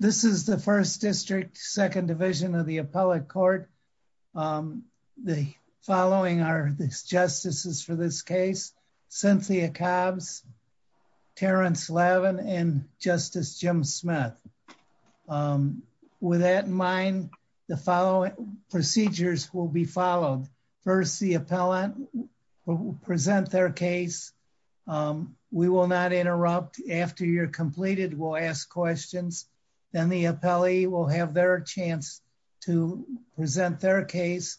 This is the 1st District, 2nd Division of the Appellate Court. The following are the Justices for this case. Cynthia Cobbs, Terrence Lavin, and Justice Jim Smith. With that in mind, the following procedures will be followed. First, the Appellant present their case. We will not interrupt. After you're completed, we'll ask questions. Then the Appellee will have their chance to present their case.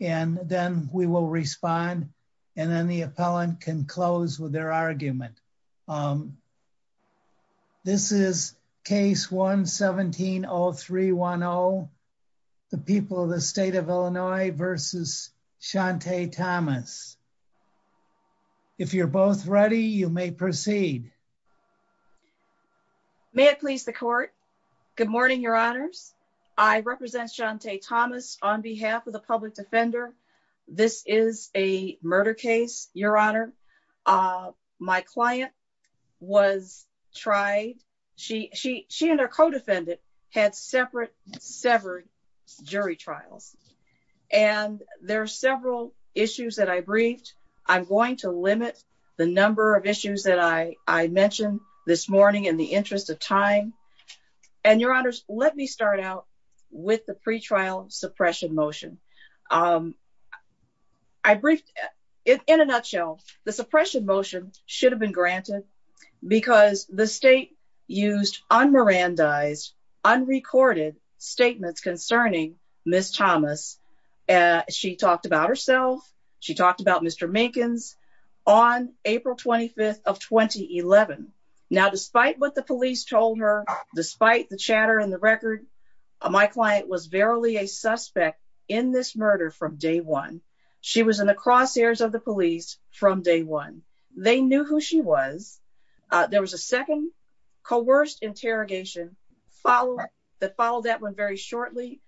And then we will respond. And then the Appellant can close with their argument. This is Case 1-17-0310, The People of the State of Illinois v. Shante Thomas. If you're both ready, you may proceed. May it please the Court. Good morning, Your Honors. I represent Shante Thomas on behalf of the public defender. This is a murder case, Your Honor. My client was tried. She and her jury trials. And there are several issues that I briefed. I'm going to limit the number of issues that I mentioned this morning in the interest of time. And Your Honors, let me start out with the pretrial suppression motion. In a nutshell, the suppression motion should have been granted because the state used unmerandized, unrecorded statements concerning Ms. Thomas. She talked about herself. She talked about Mr. Minkins on April 25th of 2011. Now, despite what the police told her, despite the chatter and the record, my client was verily a suspect in this There was a second coerced interrogation that followed that one very shortly.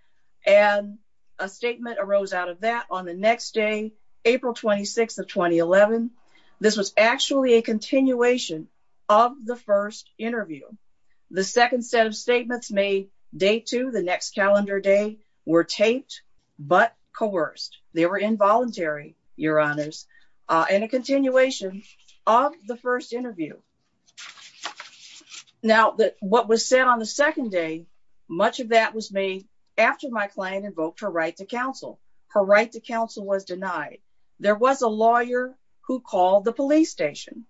And a statement arose out of that on the next day, April 26th of 2011. This was actually a continuation of the first interview. The second set of statements made day two, the next calendar day, were taped but coerced. They were involuntary, Your Honors. And a continuation of the first interview. Now, what was said on the second day, much of that was made after my client invoked her right to counsel. Her right to counsel was denied. There was a lawyer who called the police station.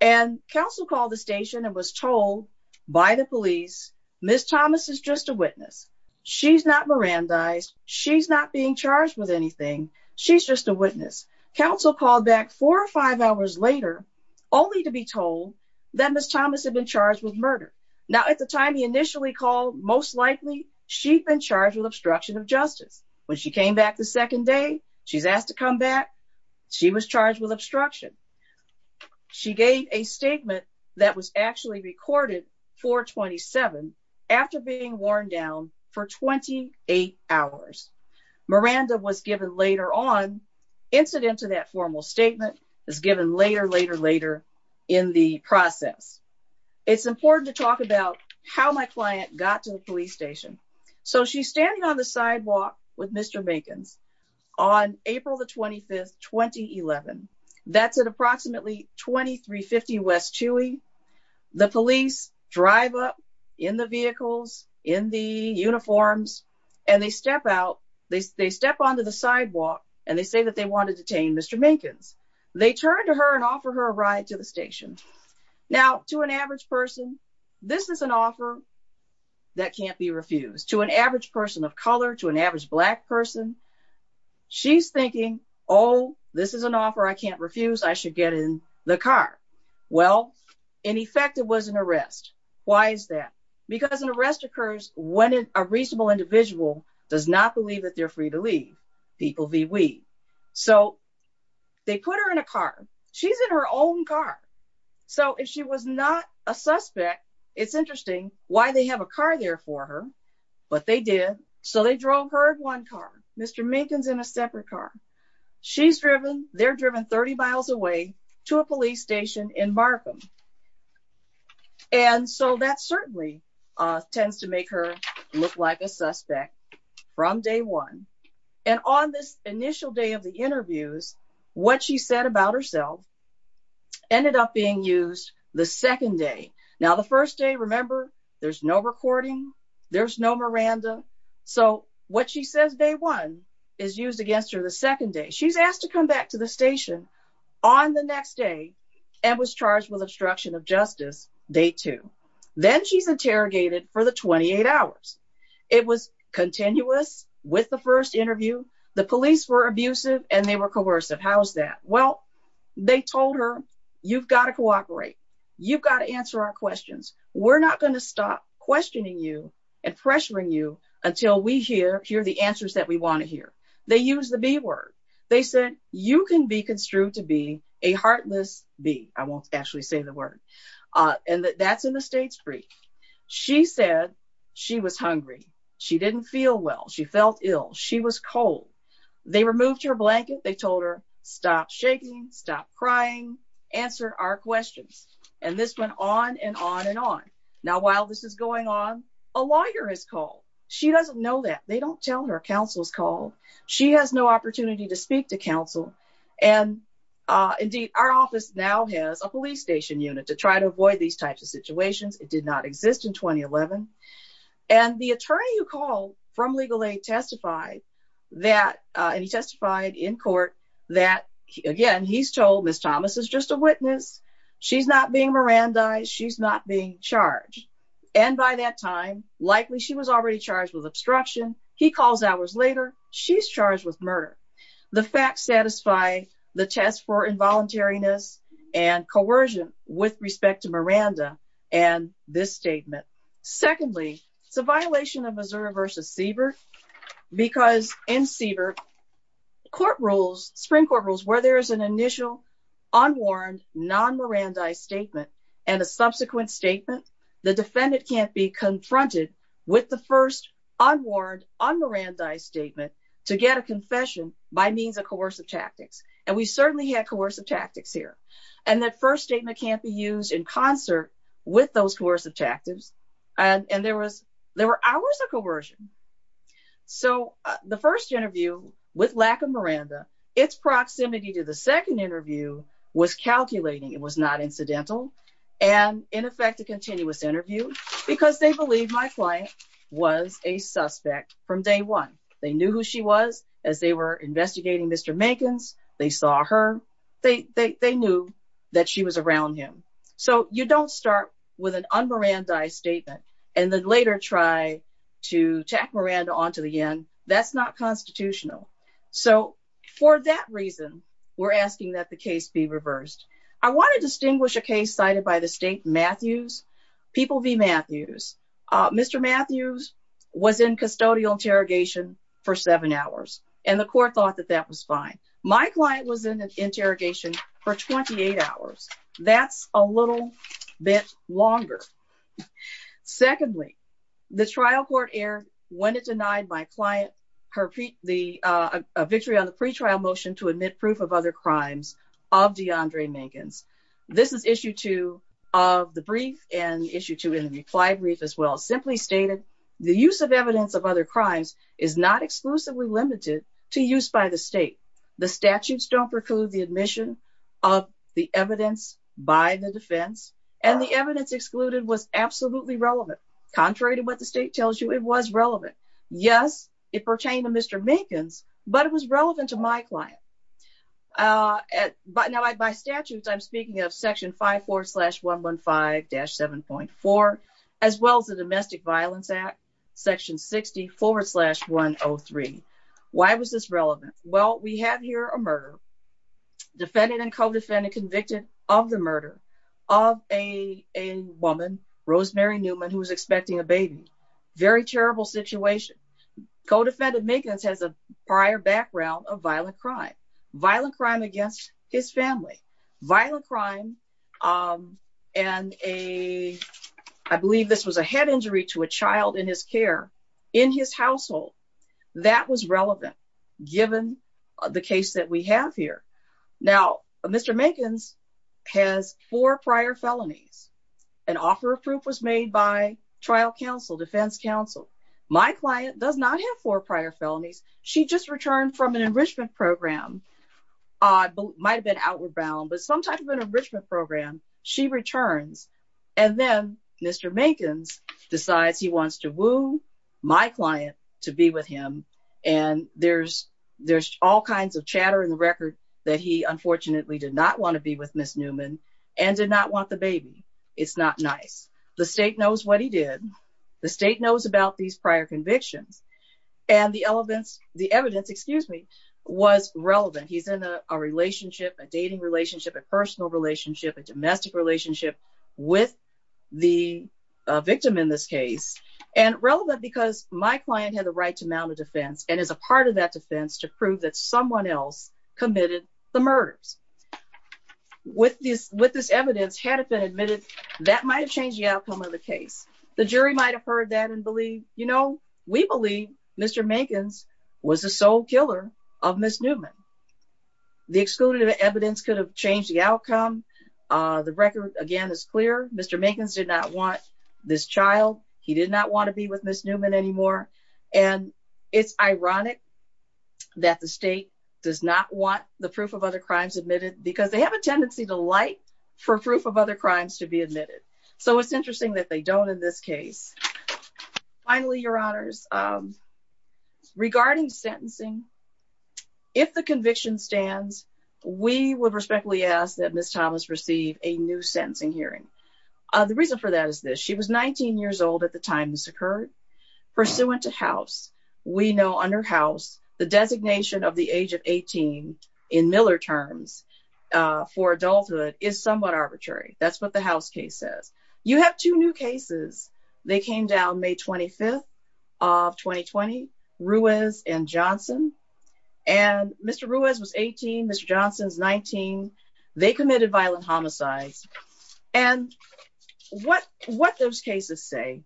And counsel called the station and was told by the police, Ms. Thomas is just a witness. She's not Mirandized. She's not being charged with anything. She's just a witness. Counsel called back four or five hours later, only to be told that Ms. Thomas had been charged with murder. Now, at the time he initially called, most likely she'd been charged with obstruction of justice. When she came back the second day, she's asked to come back. She was charged with obstruction. She gave a statement that was actually recorded 427 after being worn down for 28 hours. Miranda was given later on, incident to that formal statement is given later, later, later in the process. It's important to talk about how my client got to the police station. So she's standing on sidewalk with Mr. Minkins on April the 25th, 2011. That's at approximately 2350 West Chewy. The police drive up in the vehicles, in the uniforms, and they step out. They step onto the sidewalk and they say that they want to detain Mr. Minkins. They turn to her and offer her a ride to the station. Now, to an average person, this is an offer that can't be refused. To an average person of color, to an average black person, she's thinking, oh, this is an offer I can't refuse. I should get in the car. Well, in effect, it was an arrest. Why is that? Because an arrest occurs when a reasonable individual does not believe that they're free to leave. People V. We. So they put her in a car. She's in her own car. So if she was not a suspect, it's interesting why they have a car there for her. But they did. So they drove her in one car. Mr. Minkins in a separate car. She's driven. They're driven 30 miles away to a police station in Markham. And so that certainly tends to make her look like a suspect from day one. And on this initial day of the interviews, what she said about herself ended up being used the second day. Now, the first day, remember, there's no recording. There's no Miranda. So what she says day one is used against her the second day. She's asked to come back to the station on the next day and was charged with obstruction of justice day two. Then she's interrogated for the 28 hours. It was continuous with the first interview. The police were abusive and they were coercive. How's that? Well, they told her, you've got to cooperate. You've got to answer our questions. We're not going to stop questioning you and pressuring you until we hear the answers that we want to hear. They use the B word. They said, you can be construed to be a heartless B. I won't actually say the word. And that's in the state's brief. She said she was hungry. She didn't feel well. She felt ill. She was cold. They removed her blanket. They told her, stop shaking, stop crying, answer our questions. And this went on and on and on. Now, while this is going on, a lawyer has called. She doesn't know that. They don't tell her counsel's call. She has no opportunity to speak to counsel. And indeed, our office now has a police station unit to try to avoid these types of situations. It did not exist in 2011. And the attorney who called from legal aid testified that, and he testified in court, that again, he's told Ms. Thomas is just a witness. She's not being Mirandized. She's not being charged. And by that time, likely she was already charged with obstruction. He calls hours later. She's charged with murder. The facts satisfy the test for involuntariness and coercion with respect to Miranda and this statement. Secondly, it's a violation of Missouri v. Siebert because in Siebert, court rules, Supreme Court rules, where there is an initial unwarned non-Mirandized statement and a subsequent statement, the defendant can't be confronted with the first unwarned un-Mirandized statement to get a confession by means of coercive tactics. And we certainly had coercive tactics here. And that first statement can't be used in concert with those coercive tactics. And there was, there were hours of coercion. So the first interview with lack of Miranda, its proximity to the second interview was calculating. It was not incidental. And in effect, a continuous interview because they believe my client was a suspect from day one. They knew who she was as they were investigating Mr. Mankins. They saw her. They knew that she was around him. So you don't start with an un-Mirandized statement and then later try to tack Miranda onto the end. That's not constitutional. So for that reason, we're asking that the case be reversed. I want to distinguish a case cited by the state, Matthews, People v. Matthews. Mr. Matthews was in custodial interrogation for seven hours and the court thought that that was fine. My client was in an interrogation for 28 hours. That's a little bit longer. Secondly, the trial court aired when it denied my client a victory on the pretrial motion to admit proof of other crimes of DeAndre Mankins. This is issue two of the brief and issue two in the reply brief as well. Simply stated, the use of evidence of other crimes is not exclusively limited to use by the state. The statutes don't preclude the admission of the evidence by the defense and the evidence excluded was absolutely relevant. Contrary to what the state tells you, it was relevant. Yes, it pertained to Mr. Mankins, but it was relevant to my client. By statutes, I'm speaking of section 5.4.115-7.4, as well as the Domestic Violence Act, section 60.4.103. Why was this relevant? Well, we have here a murder, defendant and co-defendant convicted of the murder of a woman, Rosemary Newman, who was expecting a baby. Very terrible situation. Co-defendant Mankins has a prior background of violent crime, violent crime against his family. Violent crime and a, I believe this was a head injury to a child in his care in his household. That was relevant given the case that we have here. Now, Mr. Mankins has four prior felonies. An offer of proof was made by trial counsel, defense counsel. My client does not have four prior felonies. She just returned from an enrichment program, might've been outward bound, but some type of an enrichment program, she returns. And then Mr. Mankins decides he wants to woo my client to be with him. And there's all kinds of chatter in Ms. Newman and did not want the baby. It's not nice. The state knows what he did. The state knows about these prior convictions and the evidence was relevant. He's in a relationship, a dating relationship, a personal relationship, a domestic relationship with the victim in this case and relevant because my client had the right to mount a defense and as a part of that defense to prove that someone else committed the murders with this, with this evidence, had it been admitted that might've changed the outcome of the case. The jury might've heard that and believe, you know, we believe Mr. Mankins was the sole killer of Ms. Newman. The excluded evidence could have changed the outcome. Uh, the record again is clear. Mr. Mankins did not want this that the state does not want the proof of other crimes admitted because they have a tendency to like for proof of other crimes to be admitted. So it's interesting that they don't in this case. Finally, your honors, um, regarding sentencing, if the conviction stands, we would respectfully ask that Ms. Thomas receive a new sentencing hearing. Uh, the reason for that is this. She was 19 years old at the time this occurred pursuant to house. We know under house the designation of the age of 18 in Miller terms, uh, for adulthood is somewhat arbitrary. That's what the house case says. You have two new cases. They came down May 25th of 2020 Ruiz and Johnson. And Mr. Ruiz was 18. Mr. Ruiz committed violent homicides. And what, what those cases say,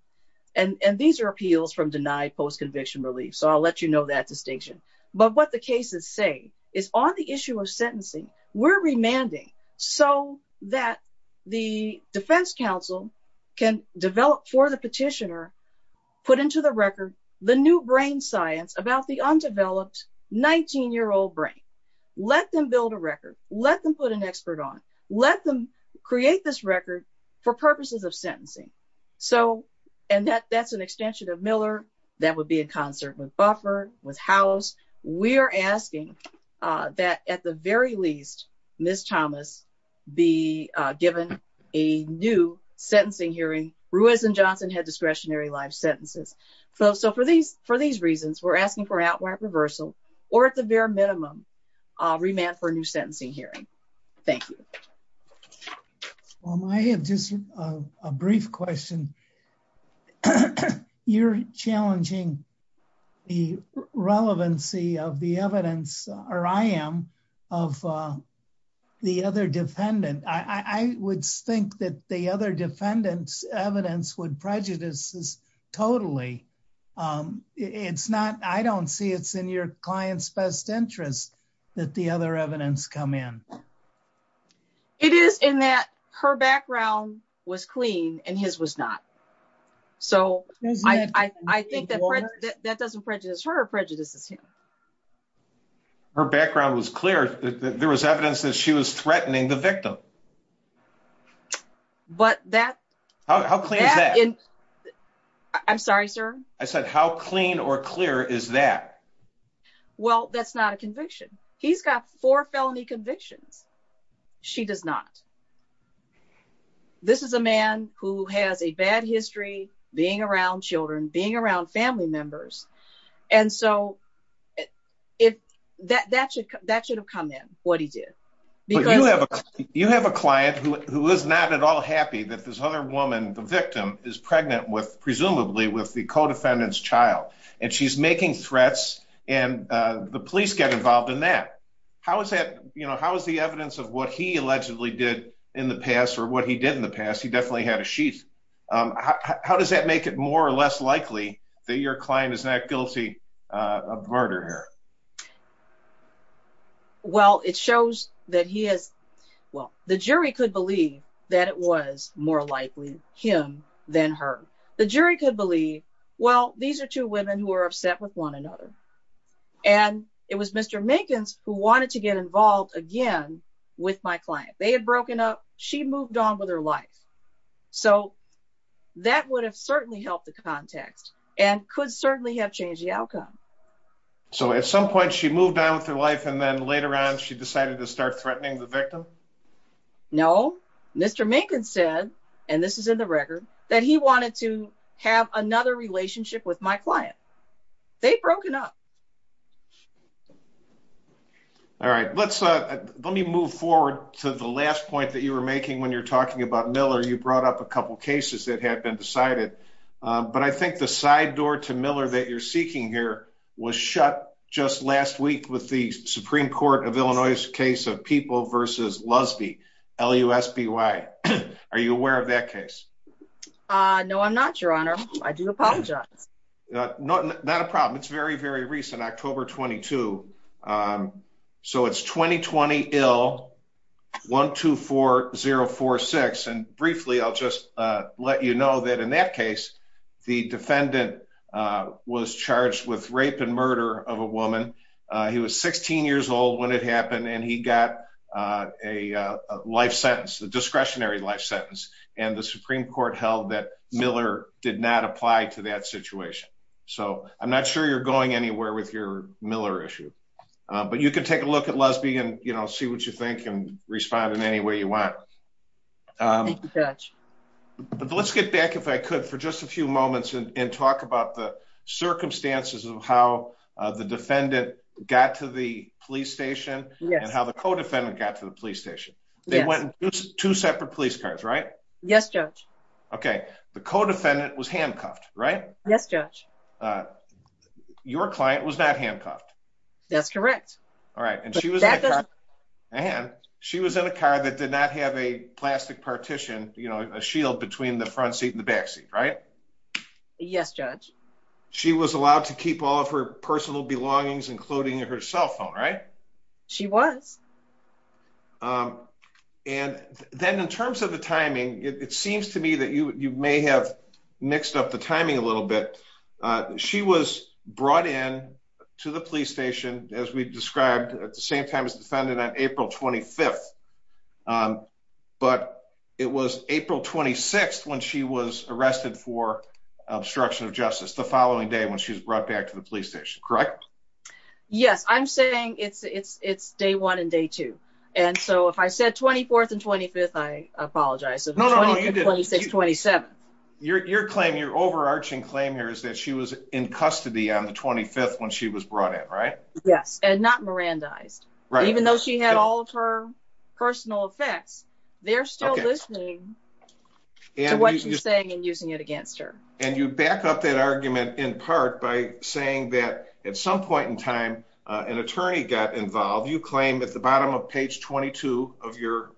and, and these are appeals from denied post conviction relief. So I'll let you know that distinction, but what the cases say is on the issue of sentencing, we're remanding so that the defense council can develop for the petitioner, put into the record, the new brain science about the undeveloped 19 year old brain, let them build a record, let them put an expert on, let them create this record for purposes of sentencing. So, and that that's an extension of Miller. That would be in concert with buffer with house. We are asking that at the very least, Ms. Thomas be given a new sentencing hearing Ruiz and Johnson had discretionary life sentences. So, so for these, for these reasons, we're asking for outward reversal or at the very minimum remand for a new sentencing hearing. Thank you. Well, I have just a brief question. You're challenging the relevancy of the evidence or I am of the other defendant. I would think that the other defendants evidence would prejudice totally. It's not, I don't see it's in your client's best interest that the other evidence come in. It is in that her background was clean and his was not. So I think that doesn't prejudice her prejudices him. Her background was clear that there was evidence that she was threatening the I'm sorry, sir. I said, how clean or clear is that? Well, that's not a conviction. He's got four felony convictions. She does not. This is a man who has a bad history being around children, being around family members. And so if that, that should, that should have come in what he did, because you have a, you have a presumably with the codefendants child and she's making threats and the police get involved in that. How has that, how has the evidence of what he allegedly did in the past or what he did in the past? He definitely had a sheath. How does that make it more or less likely that your client is not guilty of murder? Well, it shows that he has, well, the jury could believe that it was more likely him than her. The jury could believe, well, these are two women who are upset with one another. And it was Mr. Minkins who wanted to get involved again with my client. They had broken up. She moved on with her life. So that would have certainly helped the context and could certainly have changed the outcome. So at some point she moved on with her life and then later on, she and this is in the record that he wanted to have another relationship with my client. They'd broken up. All right. Let's let me move forward to the last point that you were making when you're talking about Miller. You brought up a couple of cases that had been decided, but I think the side door to Miller that you're seeking here was shut just last week with the case. No, I'm not your honor. I do apologize. Not a problem. It's very, very recent October 22. So it's 2020 ill 124046. And briefly, I'll just let you know that in that case, the defendant was charged with rape and murder of a woman. He was 16 years old when it happened. And he got a life sentence, the discretionary life sentence. And the Supreme Court held that Miller did not apply to that situation. So I'm not sure you're going anywhere with your Miller issue. But you can take a look at lesbian, you know, see what you think and respond in any way you want. Let's get back if I could for just a few moments and talk about the police station. They went to separate police cars, right? Yes, judge. Okay. The co defendant was handcuffed, right? Yes, judge. Your client was not handcuffed. That's correct. All right. And she was in a car that did not have a plastic partition, you know, a shield between the front seat in the backseat, right? Yes, judge. She was allowed to keep all of her personal belongings, including her cell phone, right? She was. And then in terms of the timing, it seems to me that you may have mixed up the timing a little bit. She was brought in to the police station, as we described at the same time as defendant on April 25. But it was April 26, when she was arrested for obstruction of justice the following day when she was brought back to the police station, correct? Yes, I'm saying it's day one and day two. And so if I said 24th and 25th, I apologize. No, no, you didn't. 26, 27. Your claim, your overarching claim here is that she was in custody on the 25th when she was brought in, right? Yes, and not Mirandized. Right. Even though she had all of her personal effects, they're still listening to what she's saying using it against her. And you back up that argument in part by saying that at some point in time, an attorney got involved. You claim at the bottom of page 22 of your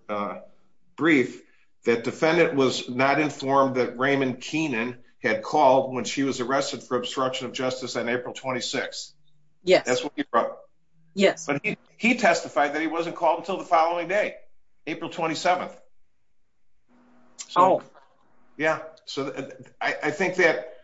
brief, that defendant was not informed that Raymond Keenan had called when she was arrested for obstruction of justice on April 26. Yes, that's what he wrote. Yes. But he testified that he wasn't called until the I think that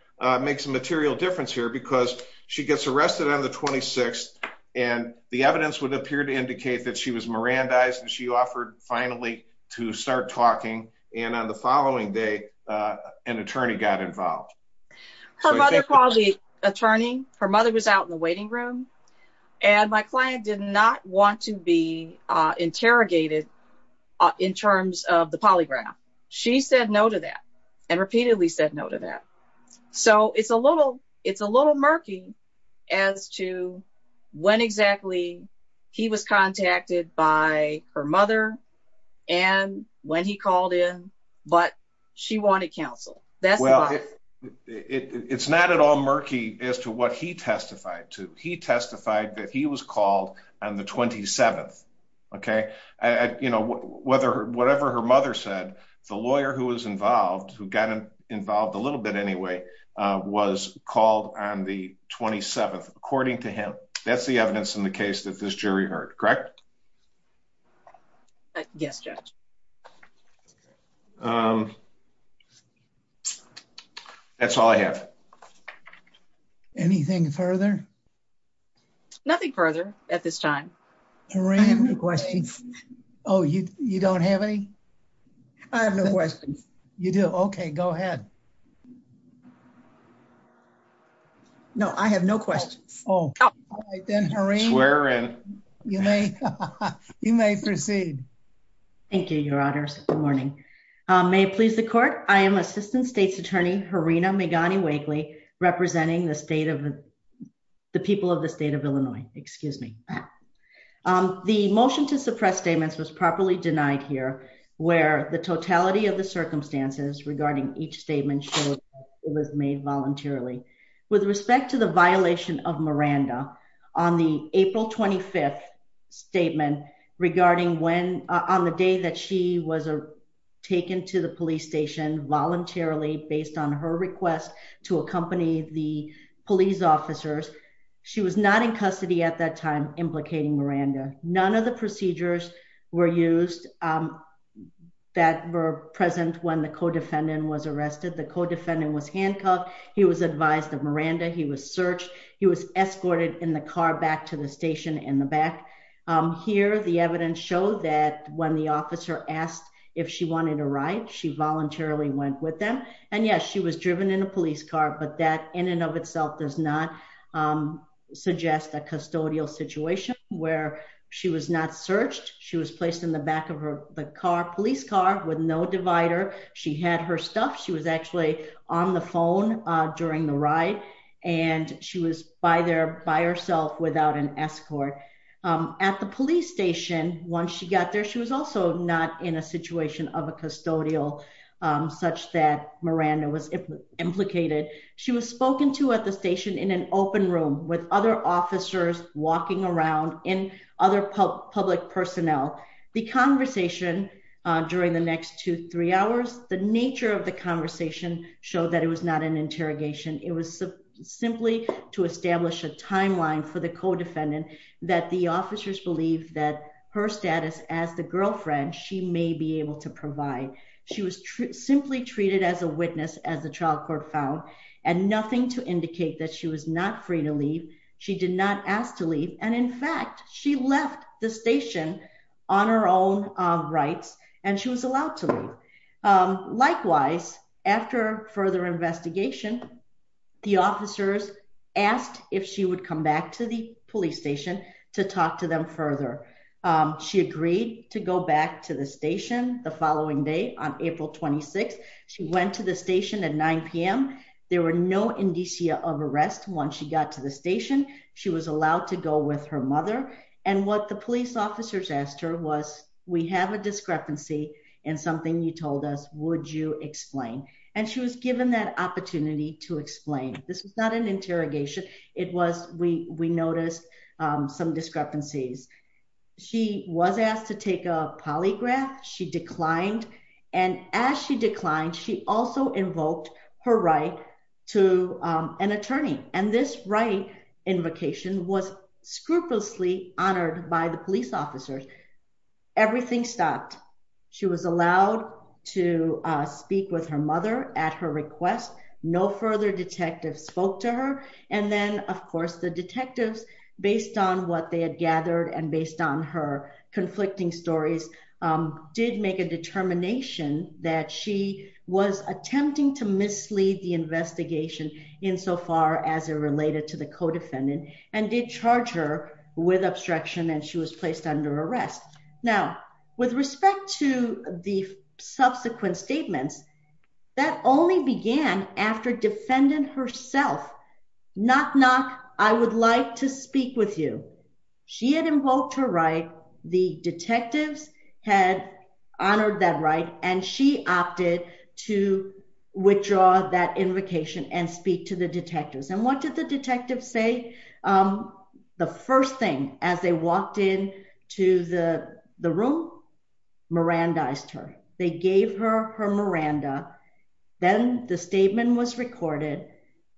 makes a material difference here because she gets arrested on the 26th and the evidence would appear to indicate that she was Mirandized and she offered finally to start talking. And on the following day, an attorney got involved. Her mother called the attorney. Her mother was out in the waiting room and my client did not want to be interrogated in terms of the polygraph. She said no to that and repeatedly said no to that. So it's a little, it's a little murky as to when exactly he was contacted by her mother and when he called in, but she wanted counsel. Well, it's not at all murky as to what he testified to. He testified that he was called on the 27th. Okay. You know, whatever her mother said, the lawyer who was involved, who got involved a little bit anyway, was called on the 27th, according to him. That's the evidence in the case that this jury heard, correct? Yes, Judge. That's all I have. Anything further? Nothing further at this time. Oh, you don't have any? I have no questions. You do? Okay, go ahead. No, I have no questions. Oh, all right. Then hurry. You may proceed. Thank you, your honors. Good morning. May it please the court. I am assistant state's attorney, Harina Megani-Wakely, representing the state of the people of the state of Illinois. Excuse me. The motion to suppress statements was properly denied here, where the totality of the it was made voluntarily. With respect to the violation of Miranda on the April 25th statement regarding when on the day that she was taken to the police station voluntarily based on her request to accompany the police officers, she was not in custody at that time implicating Miranda. None of the procedures were used that were present when the co-defendant was arrested. The co-defendant was handcuffed. He was advised of Miranda. He was searched. He was escorted in the car back to the station in the back. Here, the evidence showed that when the officer asked if she wanted a ride, she voluntarily went with them. And yes, she was driven in a police car, but that in and of itself does not suggest a custodial situation where she was not searched. She was placed in the back of the police car with no divider. She had her stuff. She was actually on the phone during the ride, and she was by there by herself without an escort. At the police station, once she got there, she was also not in a situation of a custodial such that Miranda was implicated. She was spoken to at the station in an open room with other officers walking around and other public personnel. The conversation during the next two, three hours, the nature of the conversation showed that it was not an interrogation. It was simply to establish a timeline for the co-defendant that the officers believed that her status as the girlfriend, she may be able to provide. She was simply treated as a witness as the trial court found and nothing to indicate that she was not free to leave. She did not ask to leave. And in fact, she left the station on her own rights, and she was allowed to leave. Likewise, after further investigation, the officers asked if she would come back to the police station to talk to them further. She agreed to go back to the station the following day on April 26. She went to the station at 9pm. There were no indicia of the station. She was allowed to go with her mother. And what the police officers asked her was, we have a discrepancy in something you told us, would you explain? And she was given that opportunity to explain. This was not an interrogation. It was we noticed some discrepancies. She was asked to take a polygraph, she declined. And as she declined, she also invoked her right to an attorney. And this right invocation was scrupulously honored by the police officers. Everything stopped. She was allowed to speak with her mother at her request. No further detectives spoke to her. And then of course, the detectives based on what they had gathered and based on her in so far as it related to the co defendant and did charge her with obstruction and she was placed under arrest. Now, with respect to the subsequent statements, that only began after defendant herself, knock knock, I would like to speak with you. She had invoked her right, the detectives had honored that right, and she opted to withdraw that invocation and speak to the detectives. And what did the detectives say? The first thing as they walked in to the the room, Miranda iced her, they gave her her Miranda, then the statement was recorded,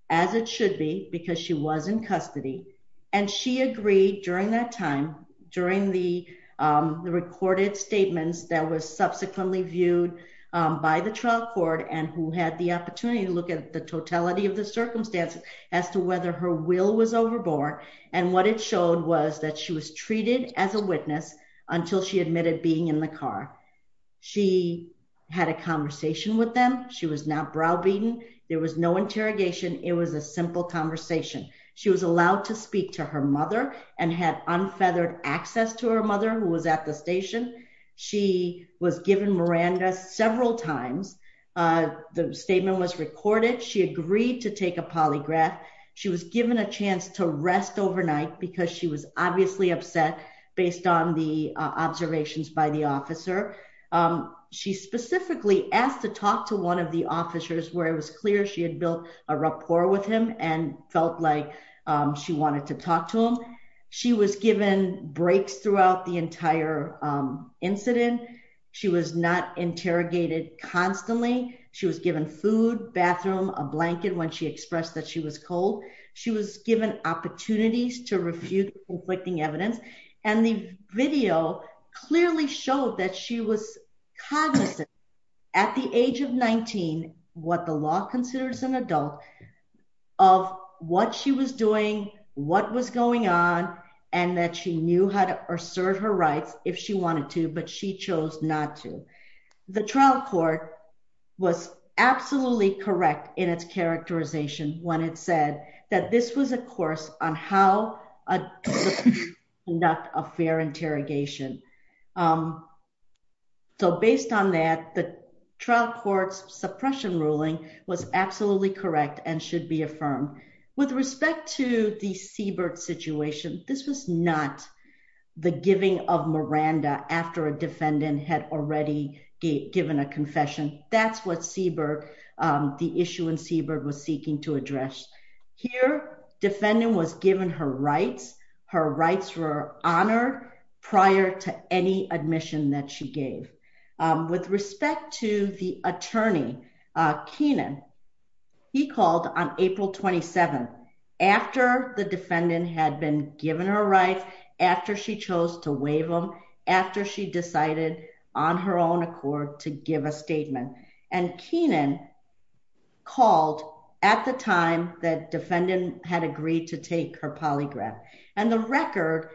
as it should be because she was in custody. And she agreed during that time during the recorded statements that was subsequently viewed by the trial court and who had the opportunity to look at the totality of the circumstances as to whether her will was overboard. And what it showed was that she was treated as a witness until she admitted being in the car. She had a conversation with them. She was not browbeaten. There was no interrogation. It was a simple conversation. She was allowed to speak to her mother and had unfeathered access to her mother who was at the station. She was given Miranda several times. The statement was recorded. She agreed to take a polygraph. She was given a chance to rest overnight because she was obviously upset based on the observations by the officer. She specifically asked to talk to one of the officers where it was clear she had built a rapport with him and felt like she wanted to talk to him. She was given breaks throughout the entire incident. She was not interrogated constantly. She was given food, bathroom, a blanket when she expressed that she was cold. She was given opportunities to refute conflicting evidence. And the video clearly showed that she was cognizant at the age of 19, what the law considers an adult of what she was doing, what was going on, and that she knew how to assert her rights if she wanted to, but she chose not to. The trial court was absolutely correct in its characterization when it said that this was a course on how to conduct a fair interrogation. So based on that, the trial court's suppression ruling was absolutely correct and should be affirmed. With respect to the Siebert situation, this was not the giving of Miranda after a given a confession. That's what Siebert, the issue in Siebert was seeking to address. Here, defendant was given her rights. Her rights were honored prior to any admission that she gave. With respect to the attorney, Keenan, he called on April 27th after the defendant had been given her rights, after she chose to waive them, after she decided on her own accord to give a statement. And Keenan called at the time that defendant had agreed to take her polygraph. And the record,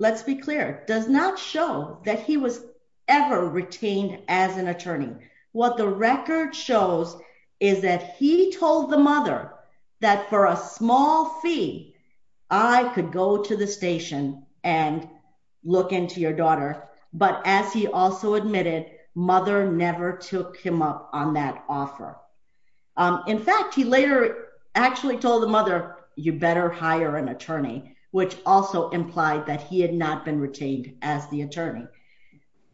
let's be clear, does not show that he was ever retained as an attorney. What the record shows is that he told the mother that for a small fee, I could go to the station and look into your daughter. But as he also admitted, mother never took him up on that offer. In fact, he later actually told the mother, you better hire an attorney, which also implied that he had not been retained as the attorney.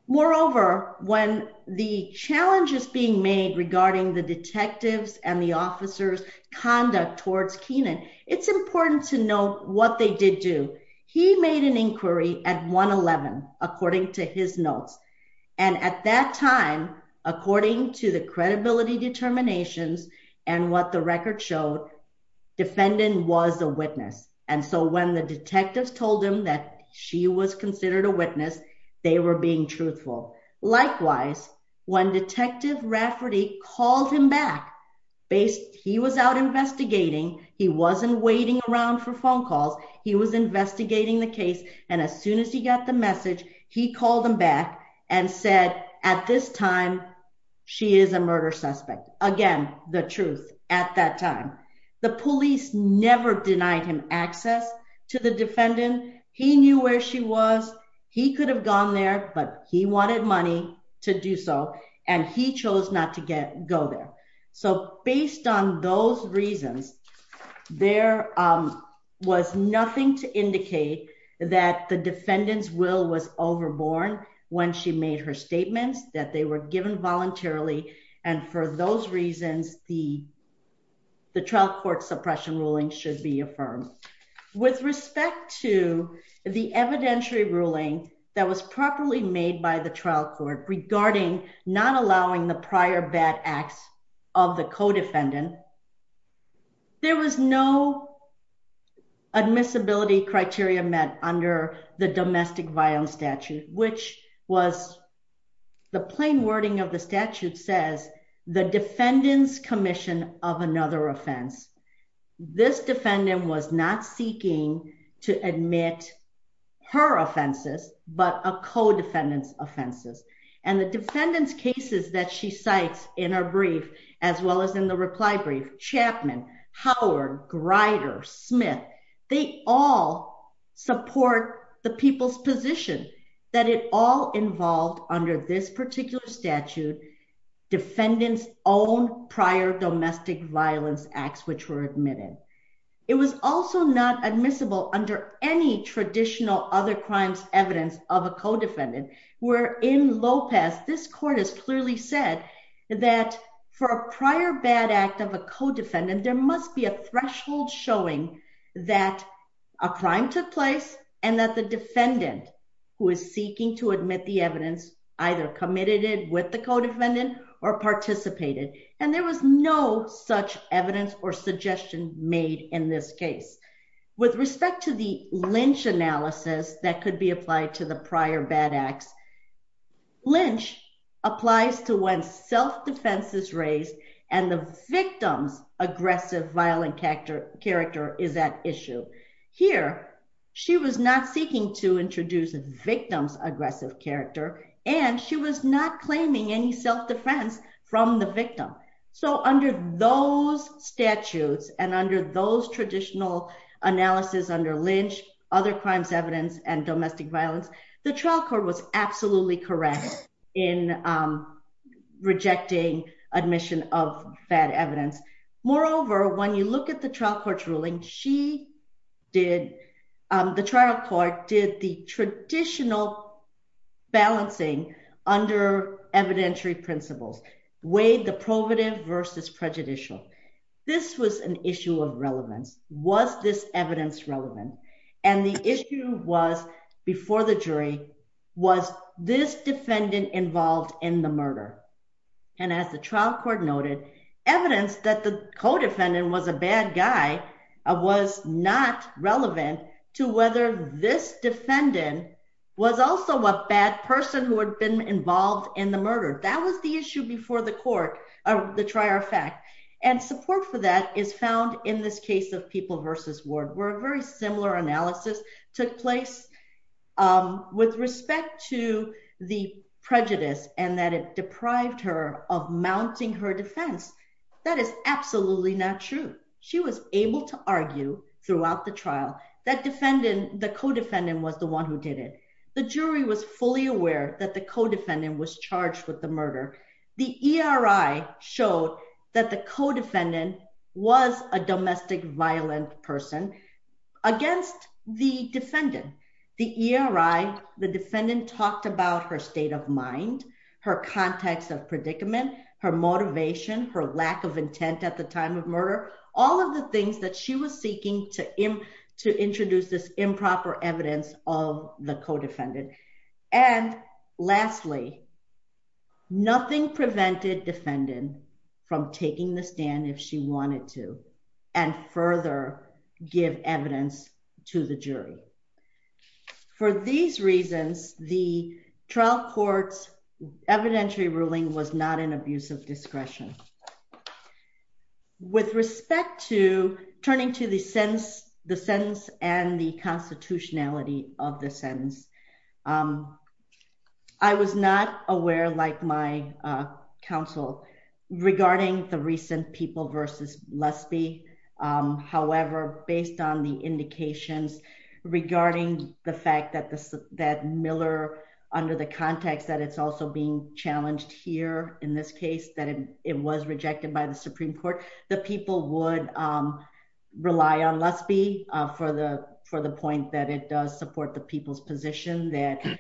Moreover, when the challenge is being made regarding the detectives and the officer's conduct towards Keenan, it's important to note what they did do. He made an inquiry at 1-11, according to his notes. And at that time, according to the credibility determinations and what the record showed, defendant was a witness. And so when the detectives told him that she was considered a witness, they were being truthful. Likewise, when Detective Rafferty called him back, he was out investigating. He wasn't waiting around for phone calls. He was investigating the case. And as soon as he got the message, he called him back and said, at this time, she is a murder suspect. Again, the truth at that time. The police never denied him access to the defendant. He knew where she was. He could have gone there, but he wanted money to do so. And he chose not to go there. So based on those reasons, there was nothing to indicate that the defendant's will was overborne when she made her statements, that they were given voluntarily. And for those reasons, the trial court suppression ruling should be affirmed. With respect to the evidentiary ruling that was properly made by the trial court regarding not allowing the prior bad acts of the co-defendant, there was no admissibility criteria met under the domestic violence statute, which was the plain wording of the statute says, the defendant's commission of another offense. This defendant was not seeking to admit her offenses, but a co-defendant's offenses. And the defendant's cases that she cites in our brief, as well as in the reply brief, Chapman, Howard, Grider, Smith, they all support the people's position that it all involved under this particular statute, defendant's own prior domestic violence acts, which were admitted. It was also not admissible under any traditional other crimes evidence of a co-defendant. Where in Lopez, this court has clearly said that for a prior bad act of a co-defendant, there must be a threshold showing that a crime took place and that the defendant who is seeking to admit the evidence either committed it with the co-defendant or participated. And there was no such evidence or suggestion made in this case. With respect to the Lynch analysis that could be applied to the prior bad acts, Lynch applies to when self-defense is raised and the victim's aggressive violent character is at issue. Here, she was not seeking to introduce a victim's aggressive character, and she was not claiming any self-defense from the victim. So under those statutes and under those traditional analysis under Lynch, other crimes evidence and domestic violence, the trial court was absolutely correct in rejecting admission of bad evidence. Moreover, when you look at the trial court's ruling, the trial court did the traditional balancing under evidentiary principles, weighed the probative versus prejudicial. This was an issue of relevance. Was this evidence relevant? And the issue was before the jury, was this defendant involved in the murder? And as the trial court noted, evidence that the co-defendant was a bad guy was not relevant to whether this defendant was also a bad person who had been involved in the murder. That was the issue before the court, the trial fact. And support for that is found in this case of People v. Ward, where a very similar analysis took place with respect to the prejudice and that it deprived her of mounting her defense. That is absolutely not true. She was able to argue throughout the trial that defendant, the co-defendant was the one who did it. The jury was fully aware that the co-defendant was charged with the murder. The ERI showed that co-defendant was a domestic violent person against the defendant. The ERI, the defendant talked about her state of mind, her context of predicament, her motivation, her lack of intent at the time of murder, all of the things that she was seeking to introduce this improper evidence of the co-defendant. And lastly, nothing prevented defendant from taking the stand if she wanted to and further give evidence to the jury. For these reasons, the trial court's evidentiary ruling was not an abuse of discretion. With respect to turning to the sentence and the constitutionality of the sentence, I was not aware, like my counsel, regarding the recent People v. Lusby. However, based on the indications regarding the fact that Miller, under the context that it's also being challenged here in this case, that it was rejected by the Supreme Court, the People would support the People's position that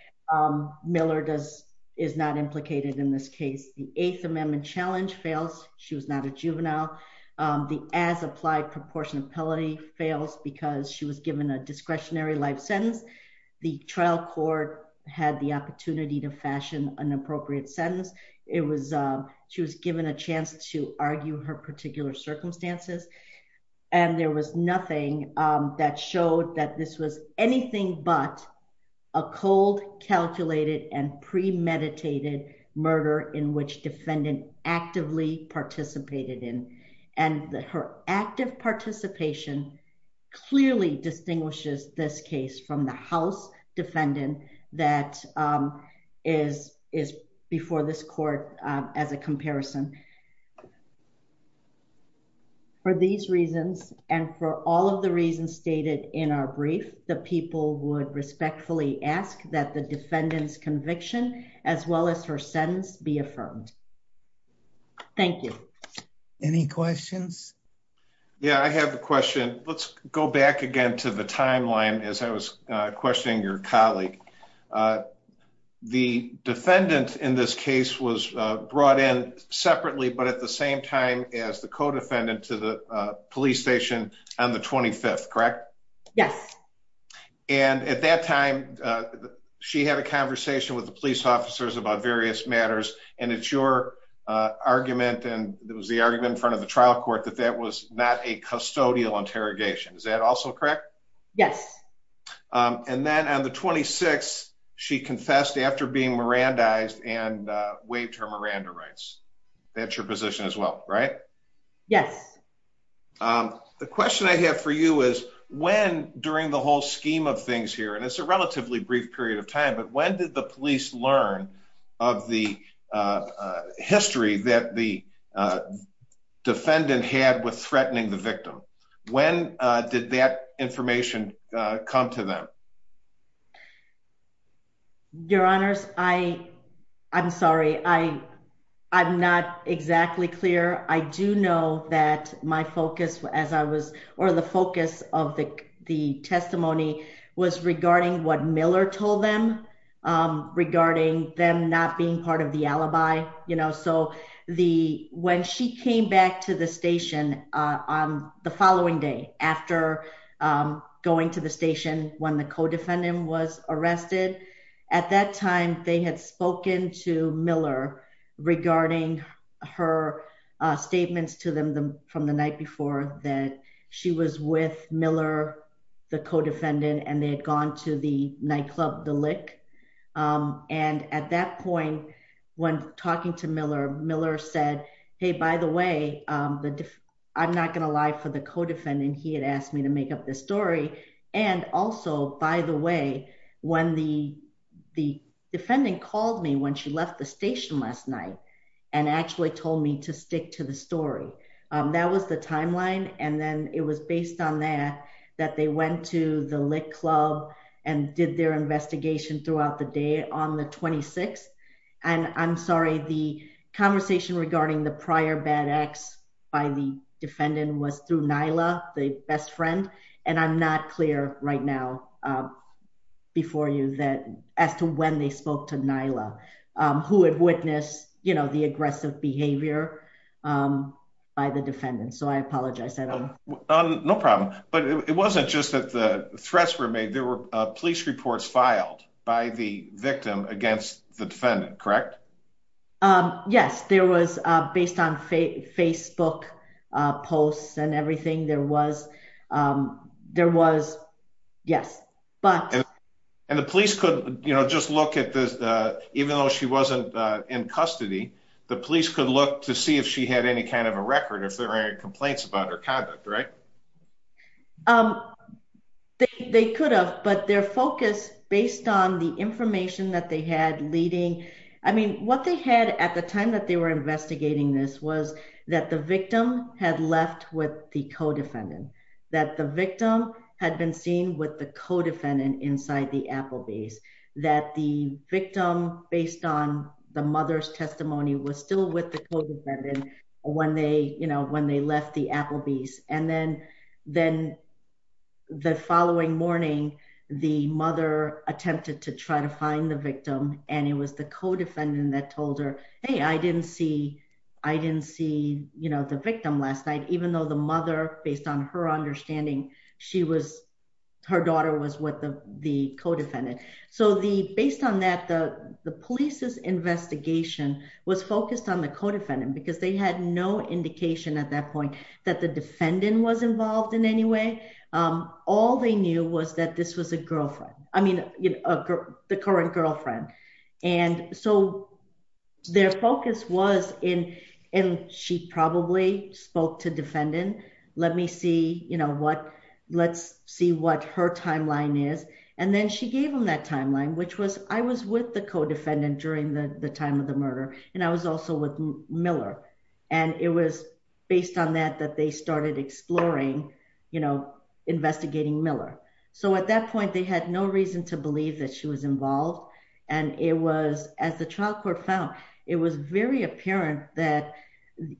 Miller is not implicated in this case. The Eighth Amendment challenge fails. She was not a juvenile. The as-applied proportionality fails because she was given a discretionary life sentence. The trial court had the opportunity to fashion an appropriate sentence. She was given a chance to argue her particular circumstances, and there was anything but a cold, calculated, and premeditated murder in which defendant actively participated in. And her active participation clearly distinguishes this case from the house defendant that is before this court as a comparison. For these reasons, and for all of the reasons stated in our brief, the People would respectfully ask that the defendant's conviction, as well as her sentence, be affirmed. Thank you. Any questions? Yeah, I have a question. Let's go back again to the timeline as I was questioning your colleague. The defendant in this case was brought in separately, but at the same time as the codefendant to the police station on the 25th, correct? Yes. And at that time, she had a conversation with the police officers about various matters, and it's your argument, and it was the argument in front of the trial court, that that was not a custodial interrogation. Is that the 26th, she confessed after being Mirandized and waived her Miranda rights. That's your position as well, right? Yes. The question I have for you is, when during the whole scheme of things here, and it's a relatively brief period of time, but when did the police learn of the history that the defendant had with threatening the victim? When did that information come to them? Your honors, I'm sorry. I'm not exactly clear. I do know that my focus, as I was, or the focus of the testimony was regarding what Miller told them, regarding them not being part of the alibi. You know, so when she came back to the station on the following day, after going to the station when the co-defendant was arrested, at that time, they had spoken to Miller regarding her statements to them from the night before that she was with Miller, the co-defendant, and they had gone to the nightclub, The Lick. And at that point, when talking to Miller, Miller said, hey, by the way, I'm not going to lie for the co-defendant. He had asked me to make up this story. And also, by the way, when the defendant called me when she left the station last night, and actually told me to stick to the story. That was the timeline. And then it was based on that, that they went to The Lick club and did their investigation throughout the day on the 26th. And I'm sorry, the conversation regarding the prior bad acts by the defendant was through Nyla, the best friend. And I'm not clear right now before you that as to when they spoke to Nyla, who had witnessed, you know, the aggressive behavior by the defendant. So I apologize. No problem. But it wasn't just that the threats were made. There were police reports filed by the victim against the defendant, correct? Um, yes, there was based on Facebook posts and everything there was. There was. Yes, but and the police could, you know, just look at this, even though she wasn't in custody, the police could look to see if she had any kind of a record if there are any complaints about her conduct, right? Um, they could have, but their focus based on the information that they had leading. I mean, what they had at the time that they were investigating this was that the victim had left with the co-defendant, that the victim had been seen with the co-defendant inside the Applebee's, that the victim based on the mother's testimony was still with the co-defendant when they, you know, when they left the Applebee's. And then, then the following morning, the mother attempted to try to find the victim and it was the co-defendant that told her, hey, I didn't see, I didn't see, you know, the victim last night, even though the mother based on her understanding, she was, her daughter was with the co-defendant. So the, based on that, the police's investigation was focused on the co-defendant because they had no indication at that point that the defendant was involved in any way. Um, all they knew was that this was a girlfriend, I mean, you know, a girl, the current girlfriend. And so their focus was in, and she probably spoke to defendant, let me see, you know, what, let's see what her timeline is. And then she gave them that timeline, which was, I was with the co-defendant during the time of the murder. And I was also with Miller. And it was based on that, that they started exploring, you know, investigating Miller. So at that point, they had no reason to believe that she was involved. And it was as the trial court found, it was very apparent that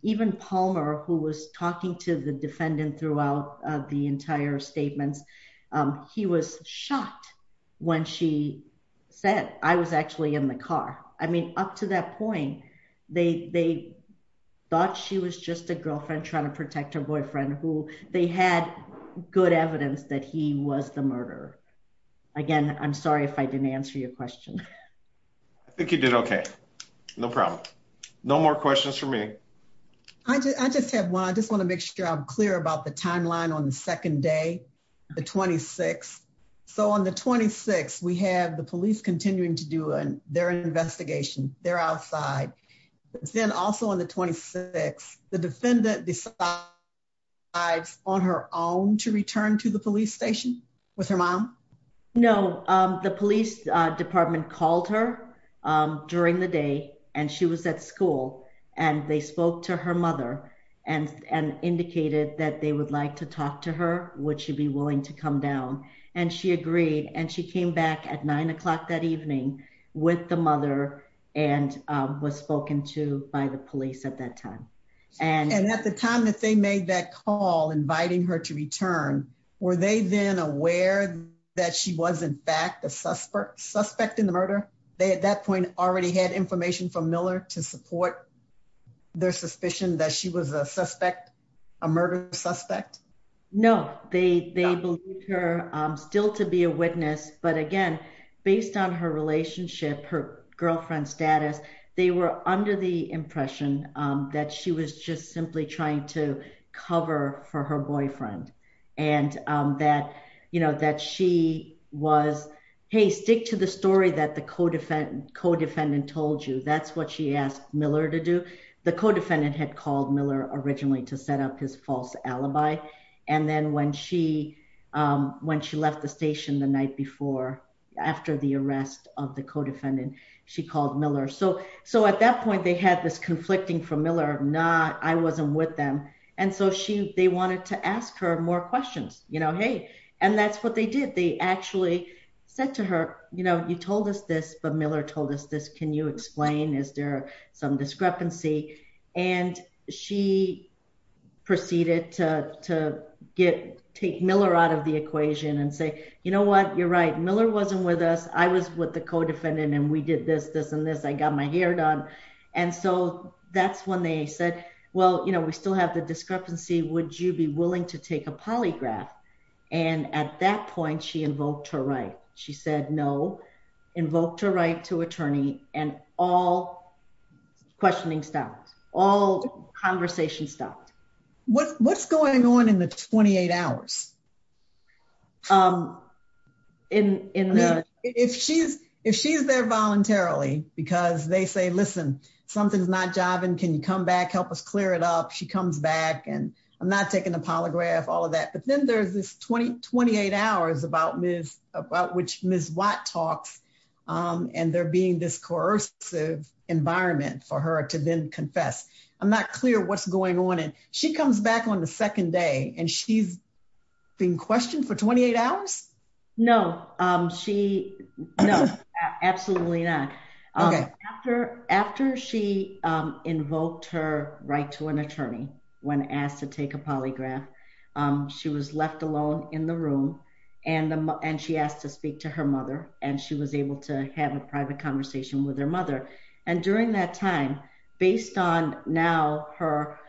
even Palmer, who was talking to the defendant throughout the entire statements, he was shocked when she said, I was actually in the car. I mean, up to that point, they, they thought she was just a girlfriend trying to protect her boyfriend who they had good evidence that he was the murderer. Again, I'm sorry if I didn't answer your question. I think you did okay. No problem. No more questions for me. I just have one. I just want to make sure I'm clear about the timeline on the second day, the 26th. So on the 26th, we have the police continuing to do their investigation. They're outside. Then also on the 26th, the defendant decides on her own to return to the police station with her mom? No, the police department called her during the day, and she was at school. And they spoke to her mother and, and indicated that they would like to talk to her, would she be willing to come down? And she agreed. And she came back at nine o'clock that evening with the mother and was spoken to by the police at that time. And at the time that they made that call inviting her to return, were they then aware that she was in fact a suspect suspect in the murder? They at that their suspicion that she was a suspect, a murder suspect? No, they they believe her still to be a witness. But again, based on her relationship, her girlfriend status, they were under the impression that she was just simply trying to cover for her boyfriend. And that, you know, that she was, hey, stick to the story that the co defendant co defendant told you, that's what she asked Miller to do. The co defendant had called Miller originally to set up his false alibi. And then when she when she left the station the night before, after the arrest of the co defendant, she called Miller. So So at that point, they had this conflicting from Miller, not I wasn't with them. And so she they wanted to ask her more questions, you know, hey, and that's what they did. They actually said to her, you know, you told us this, but Miller told us this. Can you explain Is there some discrepancy? And she proceeded to get take Miller out of the equation and say, you know what, you're right, Miller wasn't with us. I was with the co defendant. And we did this, this and this, I got my hair done. And so that's when they said, Well, you know, we still have the discrepancy, would you be willing to take a polygraph? And at that point, she invoked her right. She said no, invoked her right to attorney and all questioning stopped. All conversation stopped. What's going on in the 28 hours? In if she's, if she's there voluntarily, because they say, listen, something's not jiving, can you come back, help us clear it up, she comes back, and I'm not taking a polygraph, all of that. But then there's this 2028 hours about Ms. about which Ms. Watt talks, and there being this coercive environment for her to then confess. I'm not clear what's going on. And she comes back on the second day. And she's been questioned for 28 hours? No, she? No, absolutely not. Okay. After after she invoked her right to an attorney, when asked to take a polygraph, she was left alone in the room. And, and she asked to speak to her mother, and she was able to have a private conversation with her mother. And during that time, based on now her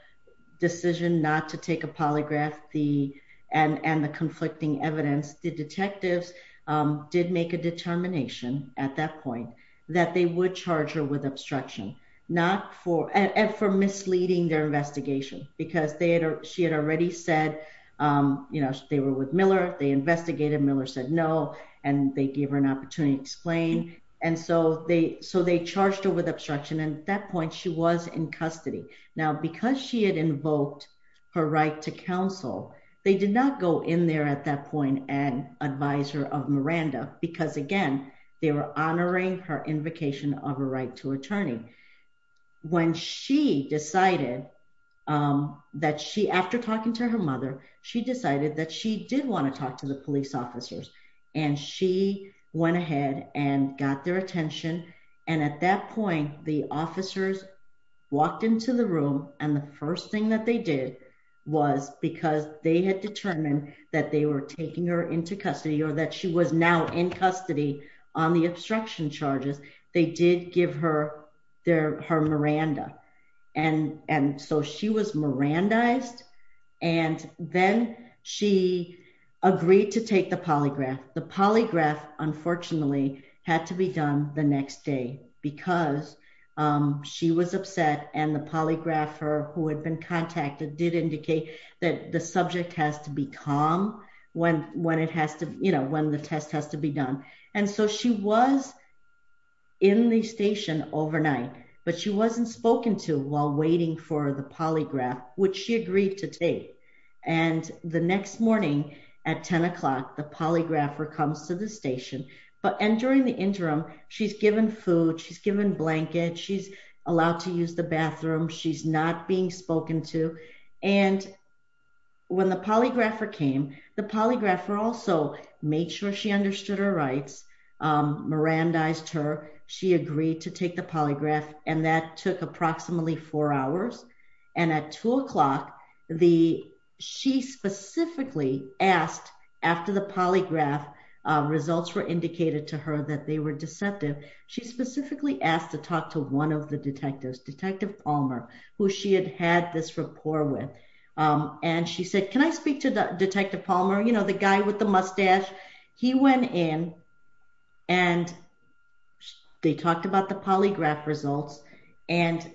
decision not to take a polygraph, the and and the conflicting evidence, the detectives did make a determination at that point, that they would charge her with obstruction, not for and for misleading their investigation, because they had, she had already said, you know, they were with Miller, they investigated Miller said no, and they gave her an opportunity to explain. And so they so they charged her with obstruction. And at that point, she was in custody. Now, because she had invoked her right to counsel, they did not go in there at that point and advisor of Miranda, because again, they were honoring her invocation of a right to attorney. When she decided that she after talking to her mother, she decided that she did want to talk to the police officers. And she went ahead and got their attention. And at that point, the officers walked into the room. And the first thing that they did was because they had determined that they were taking her into custody, or that she was now in custody on the obstruction charges, they did give her their her Miranda. And and so she was Miranda iced. And then she agreed to take the polygraph, the polygraph, unfortunately, had to be done the next day, because she was upset. And the polygrapher who had been contacted did indicate that the subject has to be calm when when it has to, you know, when the test has to be done. And so she was in the station overnight, but she wasn't spoken to while waiting for the polygraph, which she agreed to take. And the next morning, at 10 o'clock, the polygrapher comes to the station, but and during the interim, she's given food, she's given blanket, she's allowed to use the bathroom, she's not being spoken to. And when the polygrapher came, the polygrapher also made sure she understood her rights. Miranda iced her, she agreed to take the polygraph. And that took approximately four hours. And at two o'clock, the she specifically asked, after the polygraph, results were indicated to her that they were deceptive. She specifically asked to talk to one of the detectives, Detective Palmer, who she had had this rapport with. And she said, Can I speak to the detective Palmer, you know, the guy with the mustache, he went in, and they talked about the polygraph results. And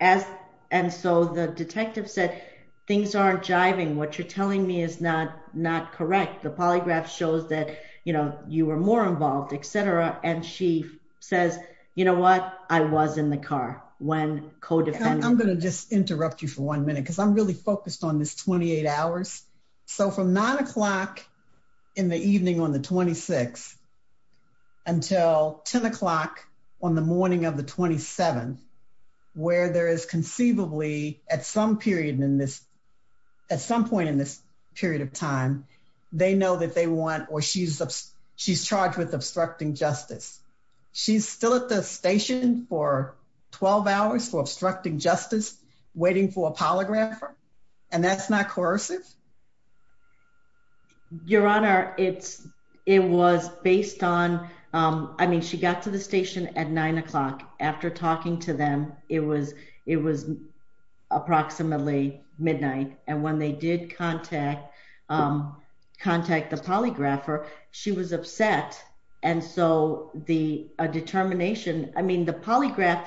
as and so the detective said, things aren't jiving, what you're telling me is not not correct. The polygraph shows that, you know, you were more involved, etc. And she says, you know what, I was in the car when I'm going to just interrupt you for one minute, because I'm really focused on this 28 hours. So from nine o'clock, in the evening on the 26th, until 10 o'clock, on the morning of the 27th, where there is conceivably at some period in this, at some point in this period of time, they know that they want or she's, she's charged with obstructing justice. She's still at the hours for obstructing justice, waiting for a polygrapher. And that's not coercive. Your Honor, it's, it was based on, I mean, she got to the station at nine o'clock, after talking to them, it was it was approximately midnight. And when they did contact, contact the polygrapher, she was upset. And so the determination, I mean, the polygraph,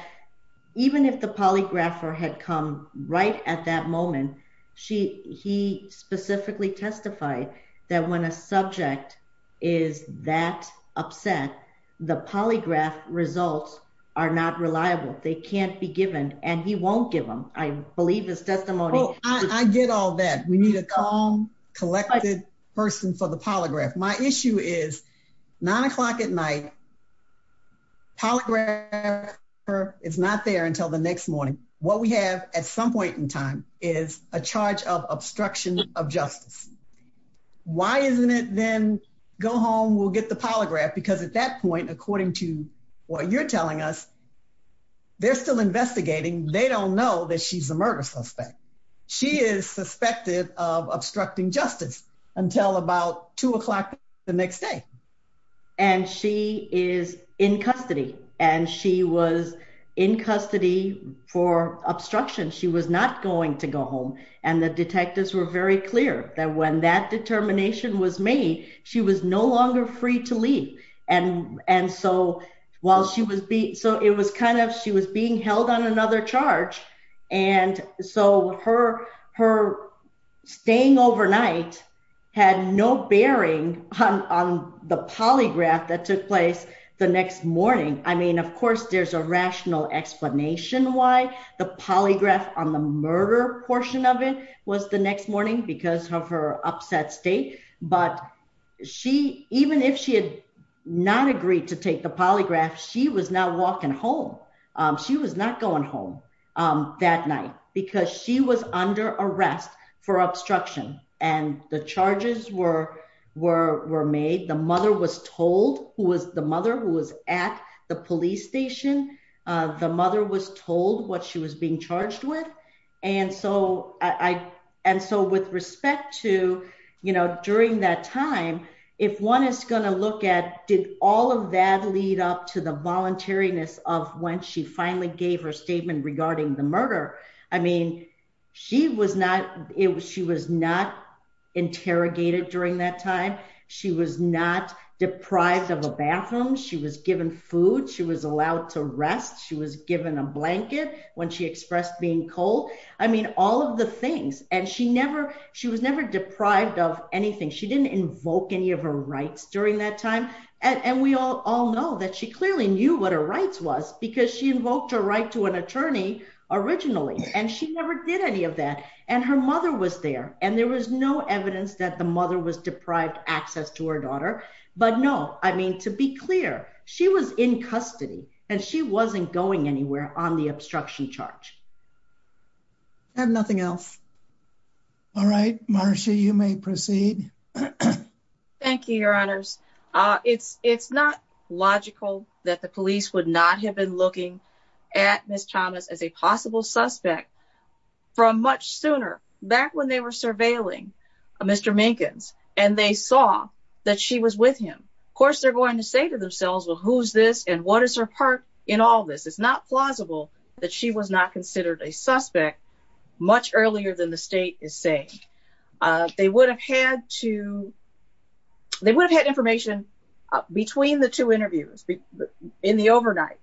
even if the polygrapher had come right at that moment, she he specifically testified that when a subject is that upset, the polygraph results are not reliable, they can't be given, and he won't give them, I believe this testimony. I get all that we need a calm, collected person for the polygraph. My issue is nine o'clock at night. Polygraph is not there until the next morning. What we have at some point in time is a charge of obstruction of justice. Why isn't it then go home, we'll get the polygraph because at that point, according to what you're telling us, they're still investigating, they don't know that she's a murder suspect. She is suspected of obstructing justice until about two o'clock the next day. And she is in custody. And she was in custody for obstruction, she was not going to go home. And the detectives were very clear that when that determination was made, she was no longer free to leave. And and so while she was beat, so it was kind of she was being held on the polygraph that took place the next morning. I mean, of course, there's a rational explanation why the polygraph on the murder portion of it was the next morning because of her upset state. But she even if she had not agreed to take the polygraph, she was not walking home. She was not was told who was the mother who was at the police station. The mother was told what she was being charged with. And so I and so with respect to, you know, during that time, if one is going to look at did all of that lead up to the voluntariness of when she finally gave her statement regarding the murder. I mean, she was not it was she was not interrogated during that time. She was not deprived of a bathroom, she was given food, she was allowed to rest, she was given a blanket when she expressed being cold. I mean, all of the things and she never, she was never deprived of anything. She didn't invoke any of her rights during that time. And we all know that she clearly knew what her rights was, because she invoked her right to an attorney originally. And she never did any of that. And her mother was there. And there was no evidence that the mother was deprived access to her daughter. But no, I mean, to be clear, she was in custody, and she wasn't going anywhere on the obstruction charge. And nothing else. All right, Marcia, you may proceed. Thank you, Your Honors. It's it's not logical that the police would not have been looking at Miss Thomas as a possible suspect from much sooner back when they were surveilling Mr. Minkins, and they saw that she was with him. Of course, they're going to say to themselves, well, who's this? And what is her part in all this? It's not plausible that she was not considered a suspect much earlier than the state is saying they would have had to they would have had information between the two interviews in the overnight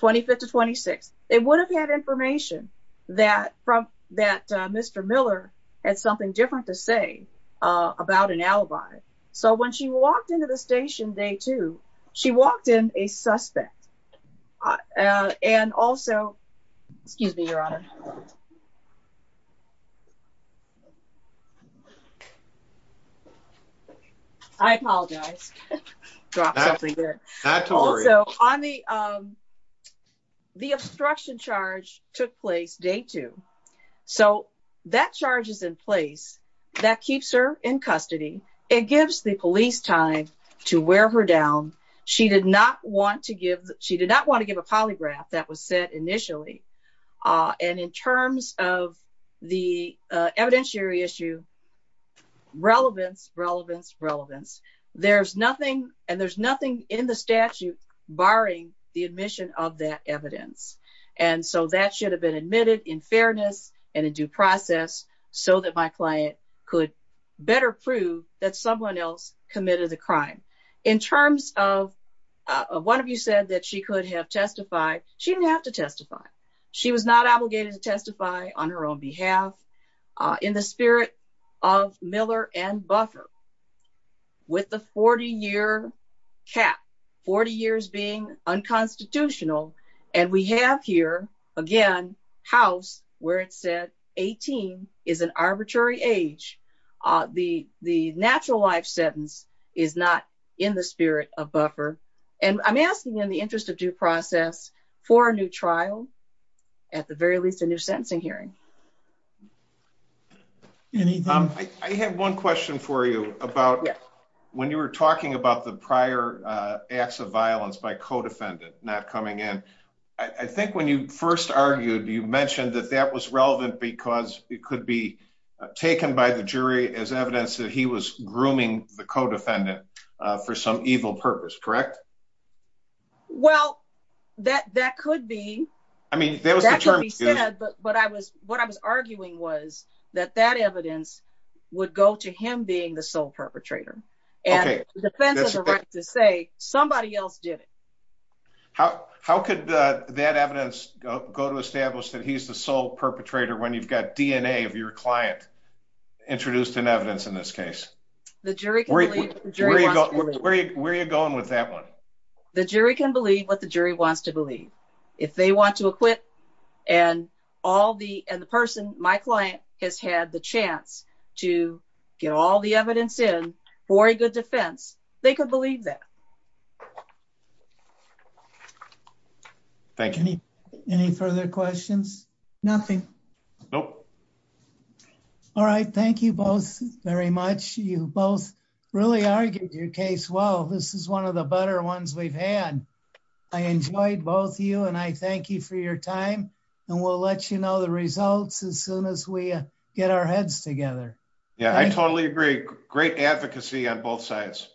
25th to 26. They would have had information that from that Mr. Miller had something different to say about an alibi. So when she walked into the station day two, she walked in a suspect. And also, excuse me, Your Honor. I apologize. The obstruction charge took place day two. So that charges in place that keeps her in custody. It gives the police time to wear her down. She did not want to give she did not want to give was said initially. And in terms of the evidentiary issue, relevance, relevance, relevance. There's nothing and there's nothing in the statute barring the admission of that evidence. And so that should have been admitted in fairness and a due process so that my client could better prove that someone else committed the crime. In terms of one of you said that she could have testified, she didn't have to testify. She was not obligated to testify on her own behalf. In the spirit of Miller and Buffer, with the 40 year cap, 40 years being unconstitutional. And we have here, again, house where it said 18 is an arbitrary age. The natural life sentence is not in the spirit of Buffer. And I'm asking in the interest of due process for a new trial, at the very least a new sentencing hearing. Anything? I have one question for you about when you were talking about the prior acts of violence by codefendant not coming in. I think when you first argued, you mentioned that that was relevant because it could be taken by the jury as evidence that he was grooming the codefendant for some evil purpose, correct? Well, that that could be, I mean, there was actually said, but I was what I was arguing was that that evidence would go to him being the sole perpetrator. And it depends on the right to say somebody else did it. How could that evidence go to establish that he's the sole perpetrator when you've got DNA of your client introduced in evidence in this case, where are you going with that one? The jury can believe what the jury wants to believe. If they want to acquit and all the, and the person, my client has had the chance to get all the evidence in for a good defense, they could believe that. Thank you. Any further questions? Nothing. Nope. All right. Thank you both very much. You both really argued your case. Well, this is one of the better ones we've had. I enjoyed both you and I thank you for your time and we'll let you know the results as soon as we get our heads together. Yeah, I totally agree. Great advocacy on both sides.